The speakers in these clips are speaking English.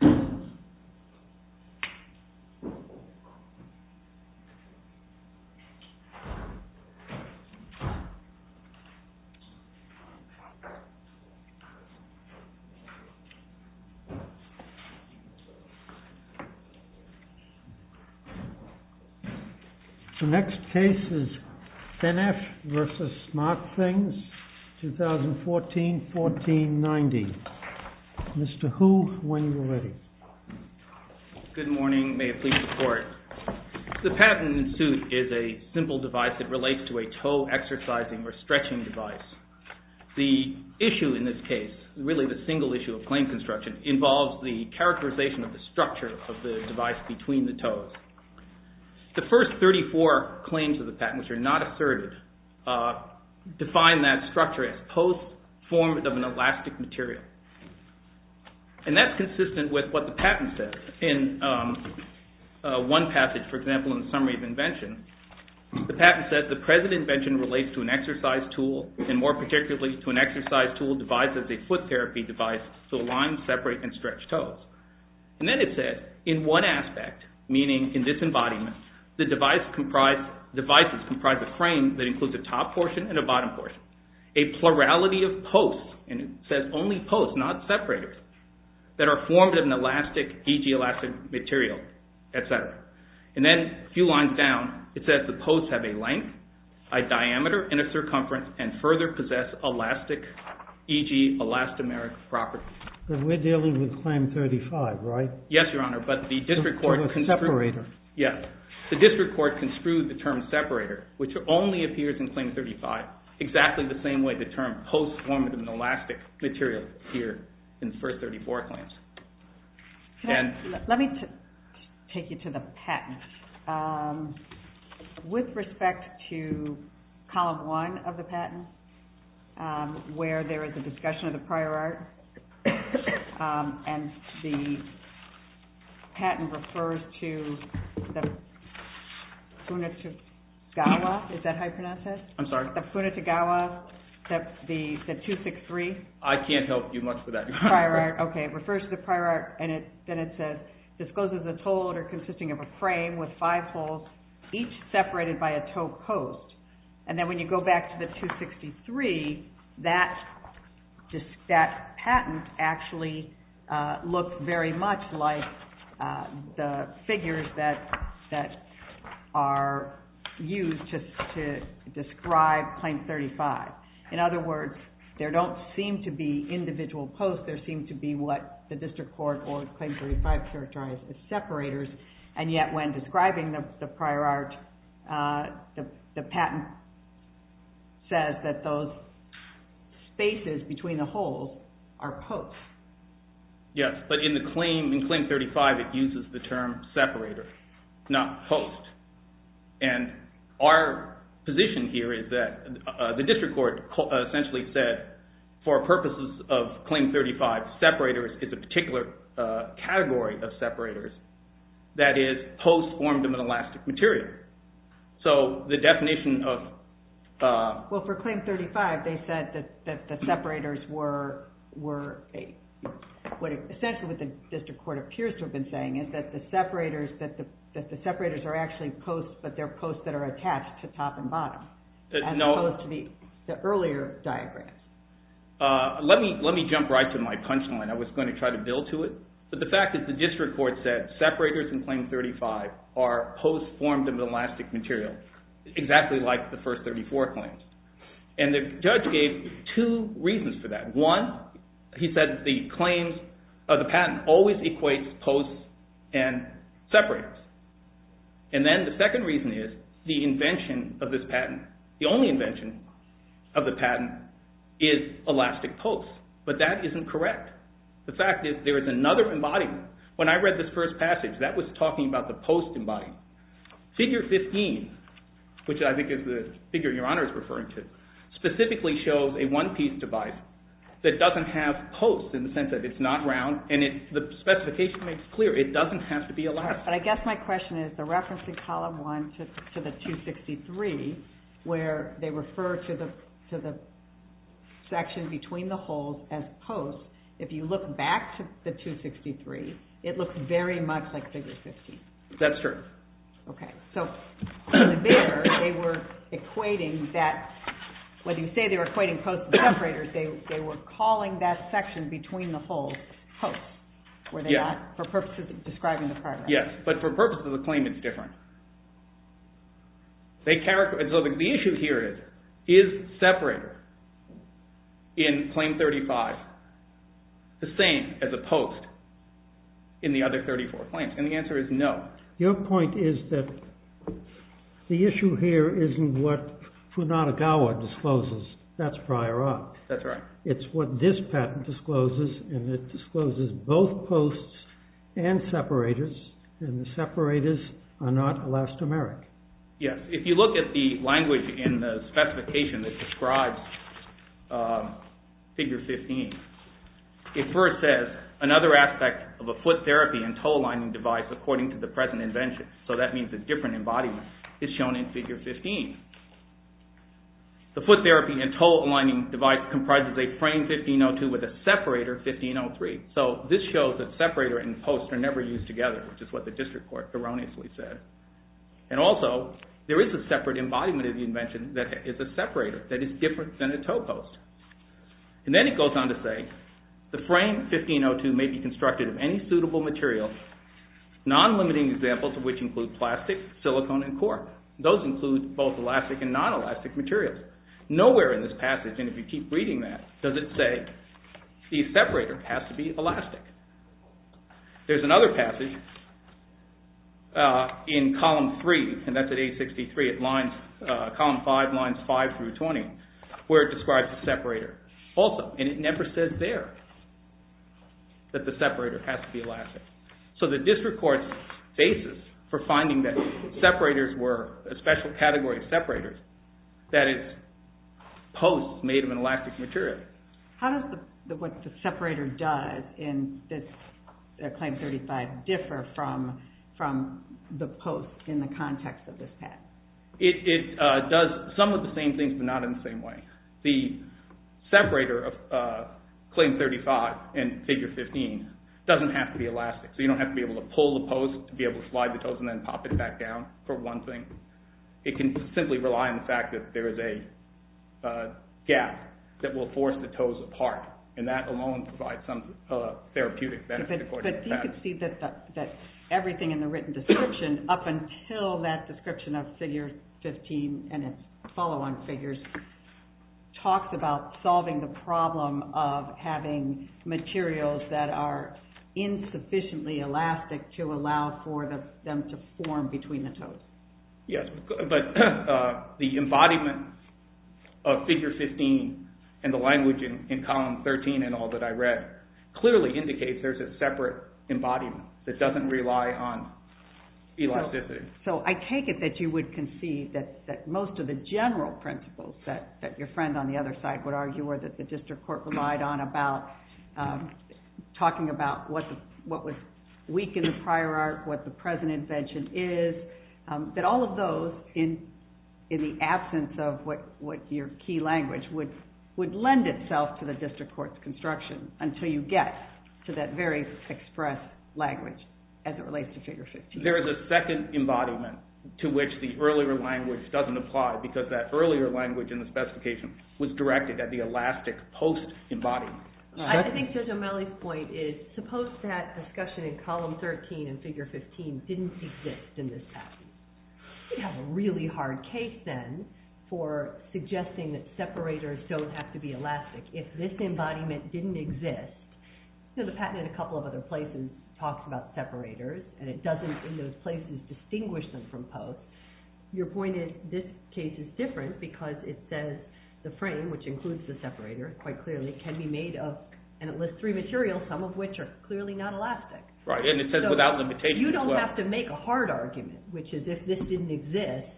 2014-14-90. The next case is FinF v. Smartthingsz, 2014-14-90. The patent in suit is a simple device that relates to a toe exercising or stretching device. The issue in this case, really the single issue of claim construction, involves the characterization of the structure of the device between the toes. The first 34 claims of the patent, which are not asserted, define that structure as post form of an elastic material. And that's consistent with what the patent says. In one passage, for example, in Summary of Invention, the patent says the present invention relates to an exercise tool and more particularly to an exercise tool devised as a foot therapy device to align, separate, and stretch toes. And then it says, in one aspect, meaning in this embodiment, the devices comprise a frame that includes a top portion and a bottom portion. A plurality of posts, and it says only posts, not separators, that are formed of an elastic, e.g. elastic material, et cetera. And then a few lines down, it says the posts have a length, a diameter, and a circumference, and further possess elastic, e.g. elastomeric properties. But we're dealing with Claim 35, right? Yes, Your Honor. But the district court construed the term separator, which only appears in Claim 35. Exactly the same way the term posts form of an elastic material here in First 34 claims. Let me take you to the patent. With respect to Column 1 of the patent, where there is a discussion of the prior art, and the patent refers to the punitivgawa, is that how you pronounce it? I'm sorry? The punitivgawa, the 263? I can't help you much with that, Your Honor. Prior art, okay. It refers to the prior art, and then it says, discloses a toad consisting of a frame with five poles, each separated by a toad post. And then when you go back to the 263, that patent actually looked very much like the figures that are used to describe Claim 35. In other words, there don't seem to be individual posts. There seem to be what the district court or Claim 35 characterized as separators. And yet when describing the prior art, the patent says that those spaces between the holes are posts. Yes, but in the claim, in Claim 35, it uses the term separator, not post. And our position here is that the district court essentially said for purposes of Claim 35, separators is a particular category of separators. That is, posts formed of an elastic material. So the definition of... Well, for Claim 35, they said that the separators were a... What essentially what the district court appears to have been saying is that the separators are actually posts, but they're posts that are attached to top and bottom, as opposed to the earlier diagrams. Let me jump right to my punchline. I was going to try to build to it. But the fact is the district court said separators in Claim 35 are posts formed of an elastic material, exactly like the first 34 claims. And the judge gave two reasons for that. One, he said the claims of the patent always equates posts and separators. And then the second reason is the invention of this patent. The only invention of the patent is elastic posts. But that isn't correct. The fact is there is another embodiment. When I read this first passage, that was talking about the post embodiment. Figure 15, which I think is the figure Your Honor is referring to, specifically shows a one-piece device that doesn't have posts in the sense that it's not round. And the specification makes clear it doesn't have to be elastic. But I guess my question is the reference in column one to the 263, where they refer to the section between the holes as posts. If you look back to the 263, it looks very much like Figure 15. That's true. Okay, so there they were equating that, when you say they were equating posts and separators, they were calling that section between the holes posts, were they not, for purposes of describing the product? Yes, but for purposes of the claim it's different. The issue here is, is separator in claim 35 the same as a post in the other 34 claims? And the answer is no. Your point is that the issue here isn't what Funadogawa discloses, that's prior art. That's right. It's what this patent discloses, and it discloses both posts and separators, and the separators are not elastomeric. Yes, if you look at the language in the specification that describes Figure 15, it first says another aspect of a foot therapy and toe aligning device, according to the present invention, so that means a different embodiment, is shown in Figure 15. The foot therapy and toe aligning device comprises a frame 1502 with a separator 1503. So this shows that separator and post are never used together, which is what the district court erroneously said. And also, there is a separate embodiment of the invention that is a separator, that is different than a toe post. And then it goes on to say, the frame 1502 may be constructed of any suitable material, non-limiting examples of which include plastic, silicone and coir. Those include both elastic and non-elastic materials. Nowhere in this passage, and if you keep reading that, does it say the separator has to be elastic. There is another passage in Column 3, and that is at page 63, at Column 5, lines 5 through 20, where it describes the separator. Also, it never says there that the separator has to be elastic. So the district court's basis for finding that separators were a special category of separators, that is, posts made of an elastic material. How does what the separator does in this Claim 35 differ from the post in the context of this passage? It does some of the same things, but not in the same way. The separator of Claim 35 in Figure 15 doesn't have to be elastic. So you don't have to be able to pull the post to be able to slide the toes and then pop it back down, for one thing. It can simply rely on the fact that there is a gap that will force the toes apart, and that alone provides some therapeutic benefit according to that. But you can see that everything in the written description, up until that description of Figure 15 and its follow-on figures, talks about solving the problem of having materials that are insufficiently elastic to allow for them to form between the toes. Yes, but the embodiment of Figure 15 and the language in Column 13 and all that I read clearly indicates there's a separate embodiment that doesn't rely on elasticity. So I take it that you would concede that most of the general principles that your friend on the other side would argue or that the district court relied on when talking about what was weak in the prior art, what the present invention is, that all of those, in the absence of what your key language would lend itself to the district court's construction until you get to that very express language as it relates to Figure 15. There is a second embodiment to which the earlier language doesn't apply because that earlier language in the specification was directed at the elastic post-embodiment. I think Judge O'Malley's point is, suppose that discussion in Column 13 and Figure 15 didn't exist in this patent. We'd have a really hard case then for suggesting that separators don't have to be elastic. If this embodiment didn't exist, the patent in a couple of other places talks about separators and it doesn't, in those places, distinguish them from post. Your point is, this case is different because it says the frame, which includes the separator, quite clearly, can be made of, and it lists three materials, some of which are clearly not elastic. Right, and it says without limitation as well. You don't have to make a hard argument, which is if this didn't exist,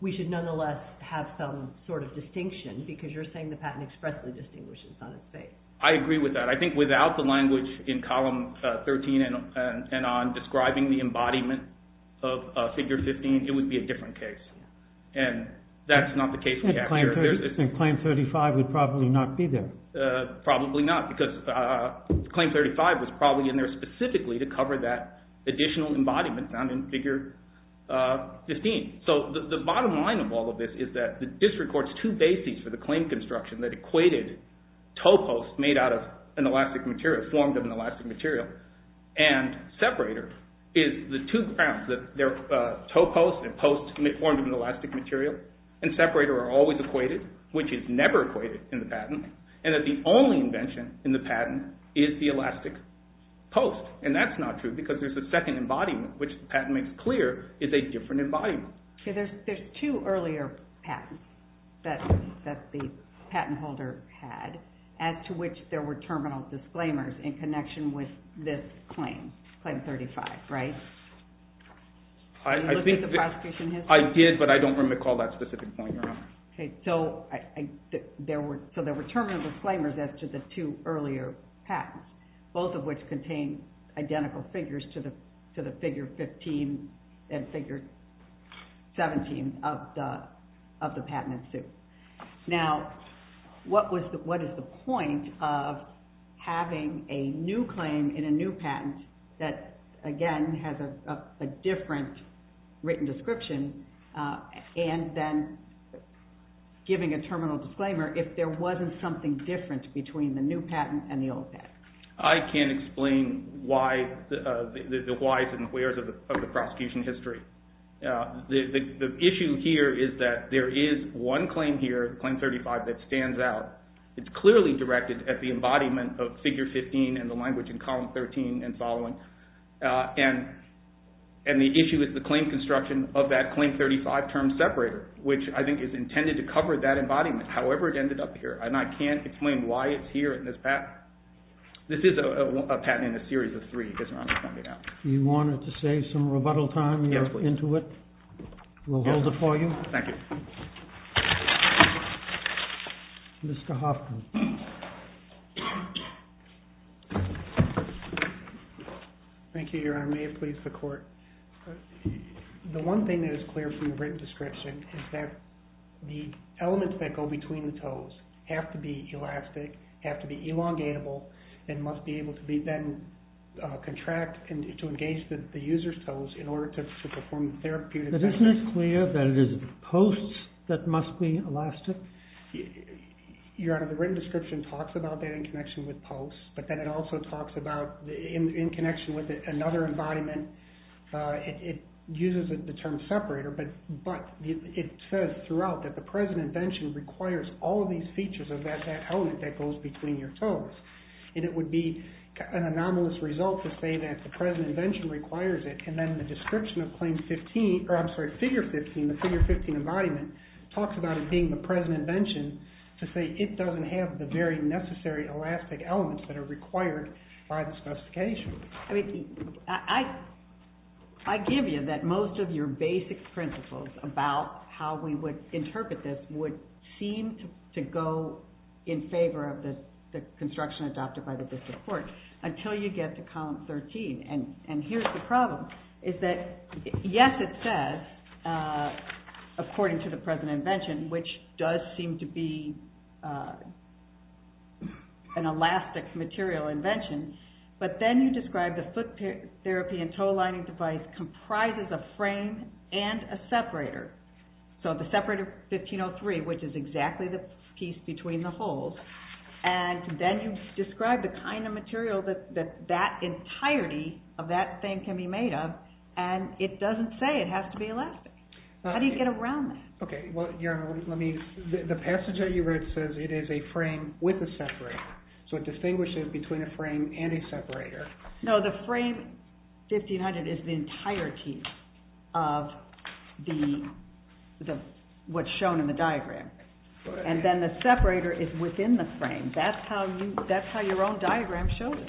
we should nonetheless have some sort of distinction because you're saying the patent expressly distinguishes on its face. I agree with that. I think without the language in Column 13 and on describing the embodiment of Figure 15, it would be a different case. And that's not the case we have here. And Claim 35 would probably not be there. Probably not because Claim 35 was probably in there specifically to cover that additional embodiment found in Figure 15. So the bottom line of all of this is that this records two bases for the claim construction that equated toe posts made out of an elastic material, formed of an elastic material, and separator is the two grounds that they're toe posts and posts formed of an elastic material, and separator are always equated, which is never equated in the patent, and that the only invention in the patent is the elastic post. And that's not true because there's a second embodiment, which the patent makes clear is a different embodiment. There's two earlier patents that the patent holder had, as to which there were terminal disclaimers in connection with this claim, Claim 35, right? I think I did, but I don't recall that specific point, Your Honor. So there were terminal disclaimers as to the two earlier patents, both of which contain identical figures to the Figure 15 and Figure 17 of the patent in suit. Now, what is the point of having a new claim in a new patent that, again, has a different written description and then giving a terminal disclaimer if there wasn't something different between the new patent and the old patent? I can't explain the why's and where's of the prosecution history. The issue here is that there is one claim here, Claim 35, that stands out. It's clearly directed at the embodiment of Figure 15 and the language in Column 13 and following, and the issue is the claim construction of that Claim 35 term separator, which I think is intended to cover that embodiment. However, it ended up here, and I can't explain why it's here in this patent. This is a patent in a series of three, as Your Honor is pointing out. Do you want to save some rebuttal time into it? We'll hold it for you. Thank you. Mr. Hoffman. Thank you, Your Honor. May it please the Court. The one thing that is clear from the written description is that the elements that go between the toes have to be elastic, have to be elongatable, and must be able to then contract and to engage the user's toes in order to perform therapeutic... But isn't it clear that it is posts that must be elastic? Your Honor, the written description talks about that in connection with posts, but then it also talks about in connection with another embodiment. It uses the term separator, but it says throughout that the present invention requires all of these features of that element that goes between your toes. And it would be an anomalous result to say that the present invention requires it, and then the description of claim 15, or I'm sorry, figure 15, the figure 15 embodiment, talks about it being the present invention to say it doesn't have the very necessary elastic elements that are required by the specification. I mean, I give you that most of your basic principles about how we would interpret this would seem to go in favor of the construction adopted by the District Court until you get to column 13. And here's the problem, is that yes, it says, according to the present invention, which does seem to be an elastic material invention, but then you describe the foot therapy and toe lining device comprises a frame and a separator. So the separator 1503, which is exactly the piece between the holes, and then you describe the kind of material that that entirety of that thing can be made of, and it doesn't say it has to be elastic. How do you get around that? Okay, well, Your Honor, let me, the passage that you read says it is a frame with a separator. So it distinguishes between a frame and a separator. No, the frame 1500 is the entirety of what's shown in the diagram. And then the separator is within the frame. That's how your own diagram shows it.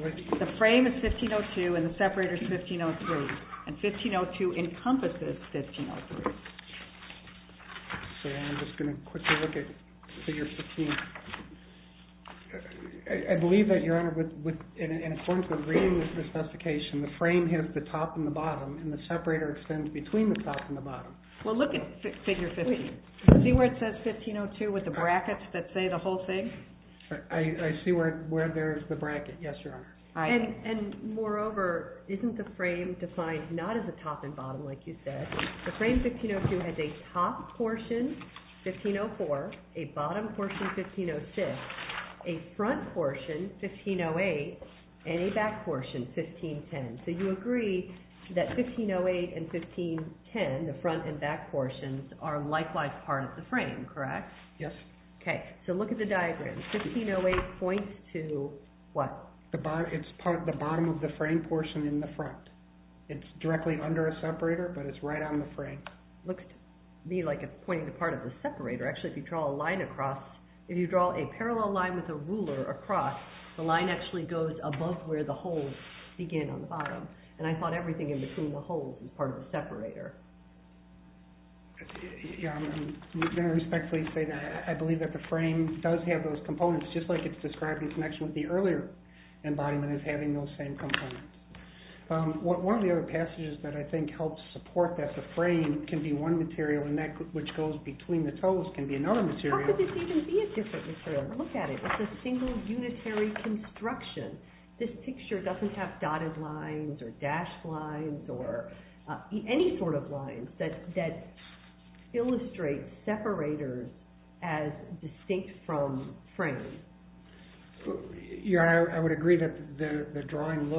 The frame is 1502 and the separator is 1503, and 1502 encompasses 1503. So I'm just going to quickly look at figure 15. I believe that, Your Honor, in accordance with reading the specification, the frame hits the top and the bottom, and the separator extends between the top and the bottom. Well, look at figure 15. See where it says 1502 with the brackets that say the whole thing? I see where there's the bracket. Yes, Your Honor. And moreover, isn't the frame defined not as a top and bottom, like you said? The frame 1502 has a top portion, 1504, a bottom portion, 1506, a front portion, 1508, and a back portion, 1510. So you agree that 1508 and 1510, the front and back portions, are likewise part of the frame, correct? Yes. Okay, so look at the diagram. 1508 points to what? It's part of the bottom of the frame portion in the front. It's directly under a separator, but it's right on the frame. Looks to me like it's pointing to part of the separator. Actually, if you draw a line across, if you draw a parallel line with a ruler across, the line actually goes above where the holes begin on the bottom. And I thought everything in between the holes is part of the separator. Your Honor, I'm going to respectfully say that I believe that the frame does have those components, just like it's described in connection with the earlier embodiment as having those same components. One of the other passages that I think helps support that the frame can be one material and that which goes between the toes can be another material. How could this even be a different material? Look at it. It's a single, unitary construction. This picture doesn't have dotted lines or dashed lines or any sort of lines that illustrate separators as distinct from frame. Your Honor, I would agree that the drawing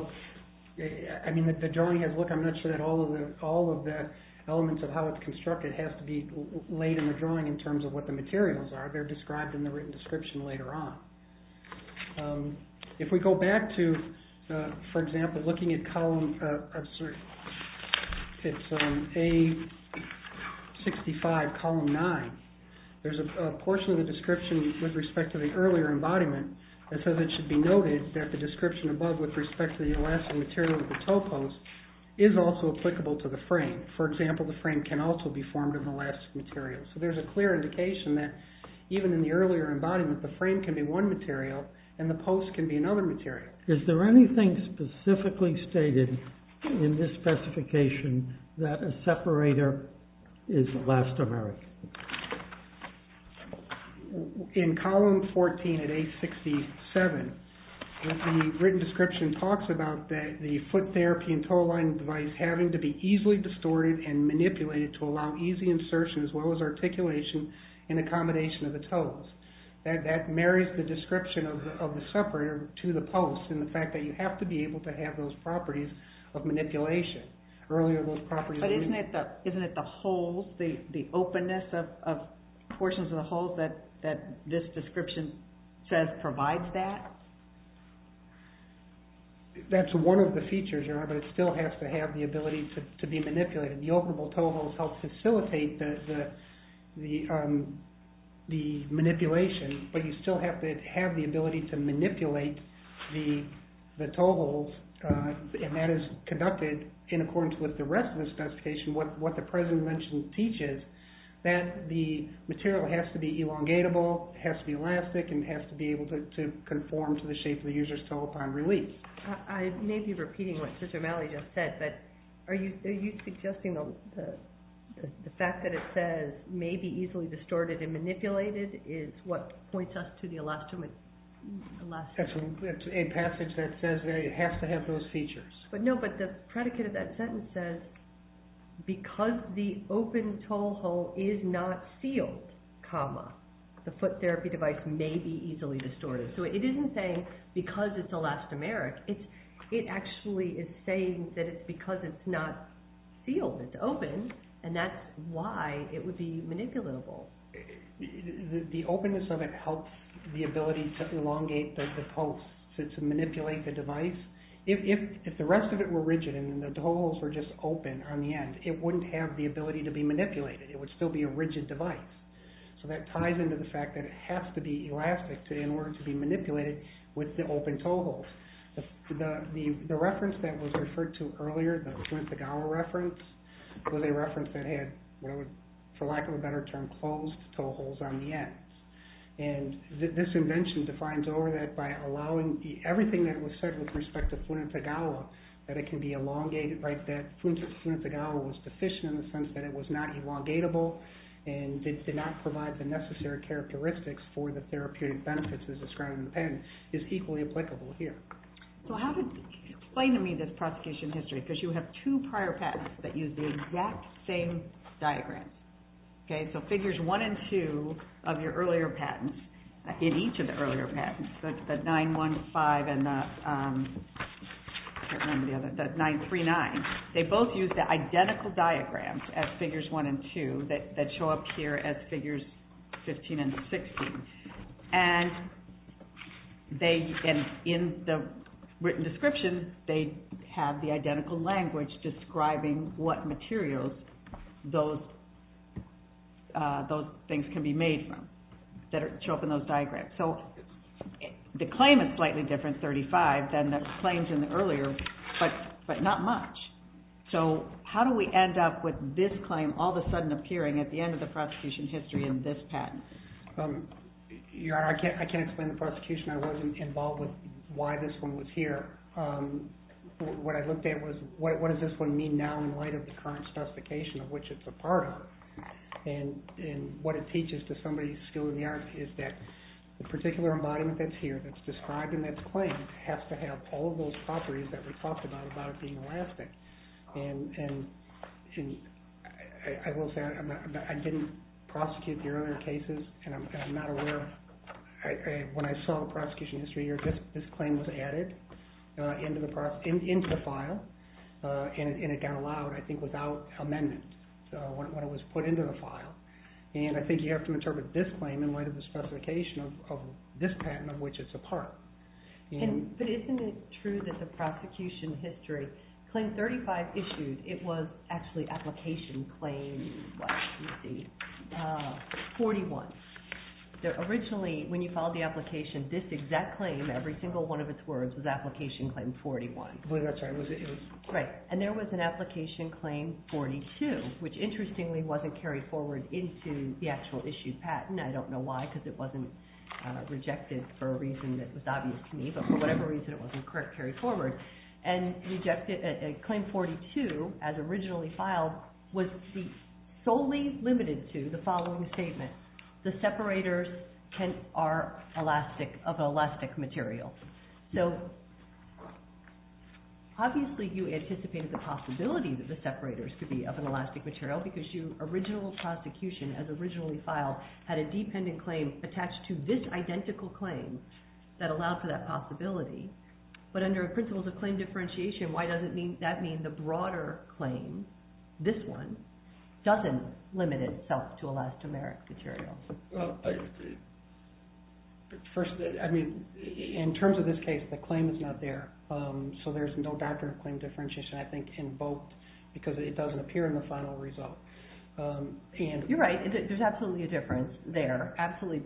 has look. I'm not sure that all of the elements of how it's constructed has to be laid in the drawing in terms of what the materials are. They're described in the written description later on. If we go back to, for example, looking at column A65, column 9, there's a portion of the description with respect to the earlier embodiment that says it should be noted that the description above with respect to the elastic material of the toe post is also applicable to the frame. For example, the frame can also be formed of elastic material. So there's a clear indication that even in the earlier embodiment, the frame can be one material and the post can be another material. Is there anything specifically stated in this specification that a separator is elastomeric? In column 14 at A67, the written description talks about the foot therapy and toe alignment device having to be easily distorted and manipulated to allow easy insertion as well as articulation and accommodation of the toes. That marries the description of the separator to the post in the fact that you have to be able to have those properties of manipulation. But isn't it the holes, the openness of portions of the holes that this description says provides that? That's one of the features, but it still has to have the ability to be manipulated. The operable toe holes help facilitate the manipulation, but you still have to have the ability to manipulate the toe holes and that is conducted in accordance with the rest of the specification. What the present mention teaches is that the material has to be elongatable, has to be elastic, and has to be able to conform to the shape of the user's toe upon release. I may be repeating what Sister Mallory just said, but are you suggesting the fact that it says may be easily distorted and manipulated is what points us to the elastomeric? That's a passage that says it has to have those features. No, but the predicate of that sentence says because the open toe hole is not sealed, the foot therapy device may be easily distorted. So it isn't saying because it's elastomeric, it actually is saying that it's because it's not sealed, it's open, and that's why it would be manipulatable. The openness of it helps the ability to elongate the post, to manipulate the device. If the rest of it were rigid and the toe holes were just open on the end, it wouldn't have the ability to be manipulated. It would still be a rigid device. So that ties into the fact that it has to be elastic in order to be manipulated with the open toe holes. The reference that was referred to earlier, the Flint-Sagawa reference, was a reference that had, for lack of a better term, closed toe holes on the end. This invention defines over that by allowing everything that was said with respect to Flint-Sagawa that it can be elongated, that Flint-Sagawa was deficient in the sense that it was not elongatable and did not provide the necessary characteristics for the therapeutic benefits as described in the patent, is equally applicable here. So how do you explain to me this prosecution history? Because you have two prior patents that use the exact same diagram. So figures 1 and 2 of your earlier patents, in each of the earlier patents, the 915 and the 939, they both use the identical diagrams as figures 1 and 2 that show up here as figures 15 and 16. And in the written description, they have the identical language describing what materials those things can be made from that show up in those diagrams. So the claim is slightly different, 35, than the claims in the earlier, but not much. So how do we end up with this claim all of a sudden appearing at the end of the prosecution history in this patent? I can't explain the prosecution. I wasn't involved with why this one was here. What I looked at was, what does this one mean now in light of the current specification of which it's a part of? And what it teaches to somebody's skill in the art is that the particular embodiment that's here, that's described in that claim, has to have all of those properties that we talked about, about it being elastic. And I will say, I didn't prosecute the earlier cases, and I'm not aware of, when I saw the prosecution history, this claim was added into the file, and it got allowed, I think, without amendment when it was put into the file. And I think you have to interpret this claim in light of the specification of this patent of which it's a part. But isn't it true that the prosecution history, Claim 35 issued, it was actually Application Claim 41. Originally, when you filed the application, this exact claim, every single one of its words, was Application Claim 41. And there was an Application Claim 42, which interestingly wasn't carried forward into the actual issued patent. I don't know why, because it wasn't rejected for a reason that was obvious to me. But for whatever reason, it wasn't carried forward. And Claim 42, as originally filed, was solely limited to the following statement. The separators are of an elastic material. So, obviously you anticipated the possibility that the separators could be of an elastic material because your original prosecution, as originally filed, had a dependent claim attached to this identical claim that allowed for that possibility. But under principles of claim differentiation, why does that mean the broader claim, this one, doesn't limit itself to elastic material? First, in terms of this case, the claim is not there. So there's no doctrine of claim differentiation, I think, invoked because it doesn't appear in the final result. You're right. There's absolutely a difference there.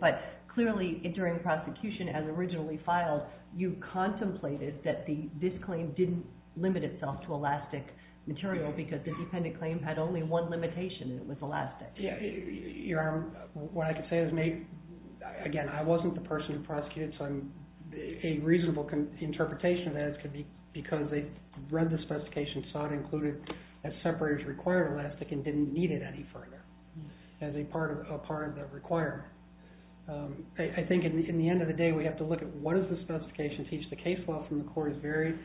But clearly, during prosecution, as originally filed, you contemplated that this claim didn't limit itself to elastic material because the dependent claim had only one limitation, and it was elastic. What I can say is, again, I wasn't the person who prosecuted, so a reasonable interpretation is that it could be because they read the specification, saw it included as separators require elastic, and didn't need it any further as a part of the requirement. I think in the end of the day, we have to look at what does the specification teach? The case law from the court is very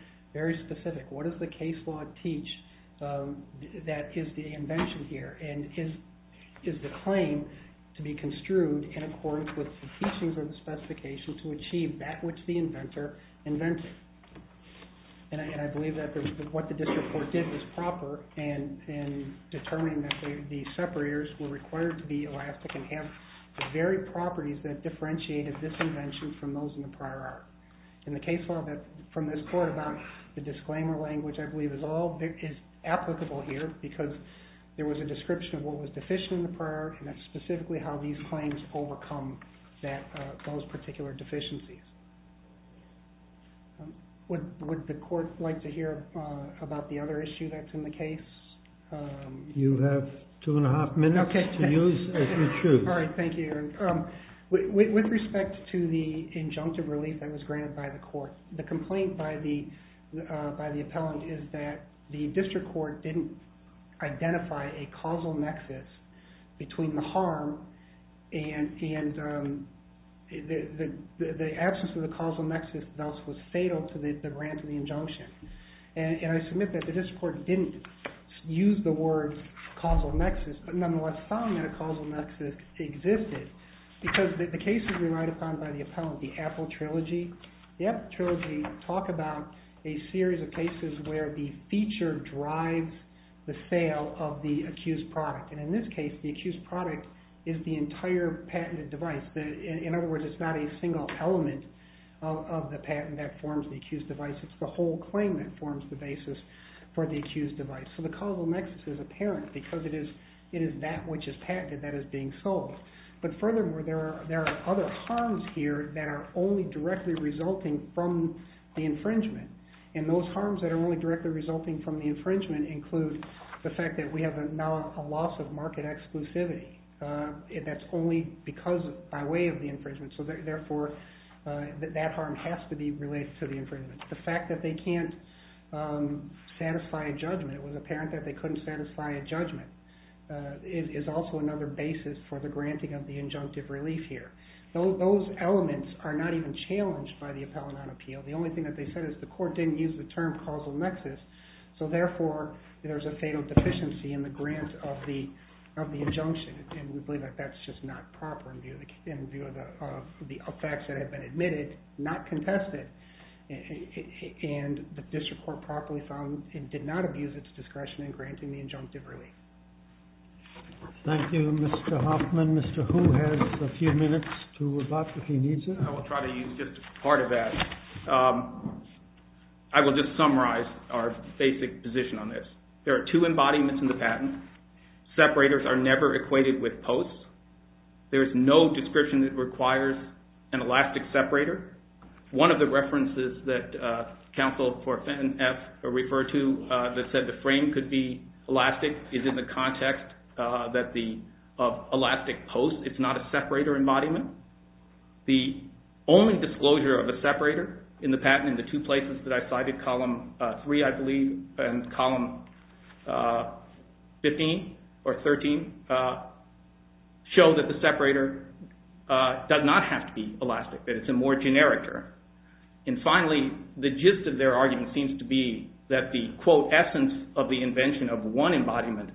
specific. What does the case law teach that is the invention here? And is the claim to be construed in accordance with the teachings of the specification to achieve that which the inventor invented? And I believe that what the district court did was proper in determining that the separators were required to be elastic and have the very properties that differentiated this invention from those in the prior art. And the case law from this court about the disclaimer language, I believe, is applicable here because there was a description of what was deficient in the prior art, and that's specifically how these claims overcome those particular deficiencies. Would the court like to hear about the other issue that's in the case? You have two and a half minutes to use as you choose. All right, thank you. With respect to the injunctive relief that was granted by the court, the complaint by the appellant is that the district court didn't identify a causal nexus between the harm and the absence of the causal nexus thus was fatal to the grant of the injunction. And I submit that the district court didn't use the word causal nexus, but nonetheless found that a causal nexus existed because the cases we write upon by the appellant, the Apple Trilogy, the Apple Trilogy talk about a series of cases where the feature drives the sale of the accused product. And in this case, the accused product is the entire patented device. In other words, it's not a single element of the patent that forms the accused device. It's the whole claim that forms the basis for the accused device. So the causal nexus is apparent because it is that which is patented that is being sold. But furthermore, there are other harms here that are only directly resulting from the infringement. And those harms that are only directly resulting from the infringement include the fact that we have now a loss of market exclusivity. That's only because by way of the infringement. So therefore, that harm has to be related to the infringement. The fact that they can't satisfy a judgment, it was apparent that they couldn't satisfy a judgment, is also another basis for the granting of the injunctive relief here. Those elements are not even challenged by the appellant on appeal. The only thing that they said is the court didn't use the term causal nexus. So therefore, there's a fatal deficiency in the grant of the injunction. And we believe that that's just not proper in view of the facts that have been admitted, not contested, and the district court properly found it did not abuse its discretion in granting the injunctive relief. Thank you, Mr. Hoffman. Mr. Hu has a few minutes to rebut if he needs it. I will try to use just part of that. I will just summarize our basic position on this. There are two embodiments in the patent. Separators are never equated with posts. There is no description that requires an elastic separator. One of the references that counsel for Fenton F. referred to that said the frame could be elastic is in the context of elastic posts. It's not a separator embodiment. The only disclosure of a separator in the patent in the two places that I cited, column 3, I believe, and column 15 or 13, show that the separator does not have to be elastic, that it's a more generic term. And finally, the gist of their argument seems to be that the quote, essence of the invention of one embodiment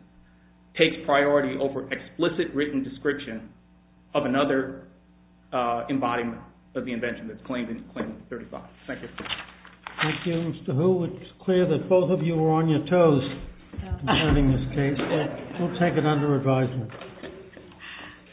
takes priority over explicit written description of another embodiment of the invention that's claimed in Claim 35. Thank you. Thank you, Mr. Hu. It's clear that both of you are on your toes concerning this case. We'll take it under advisement.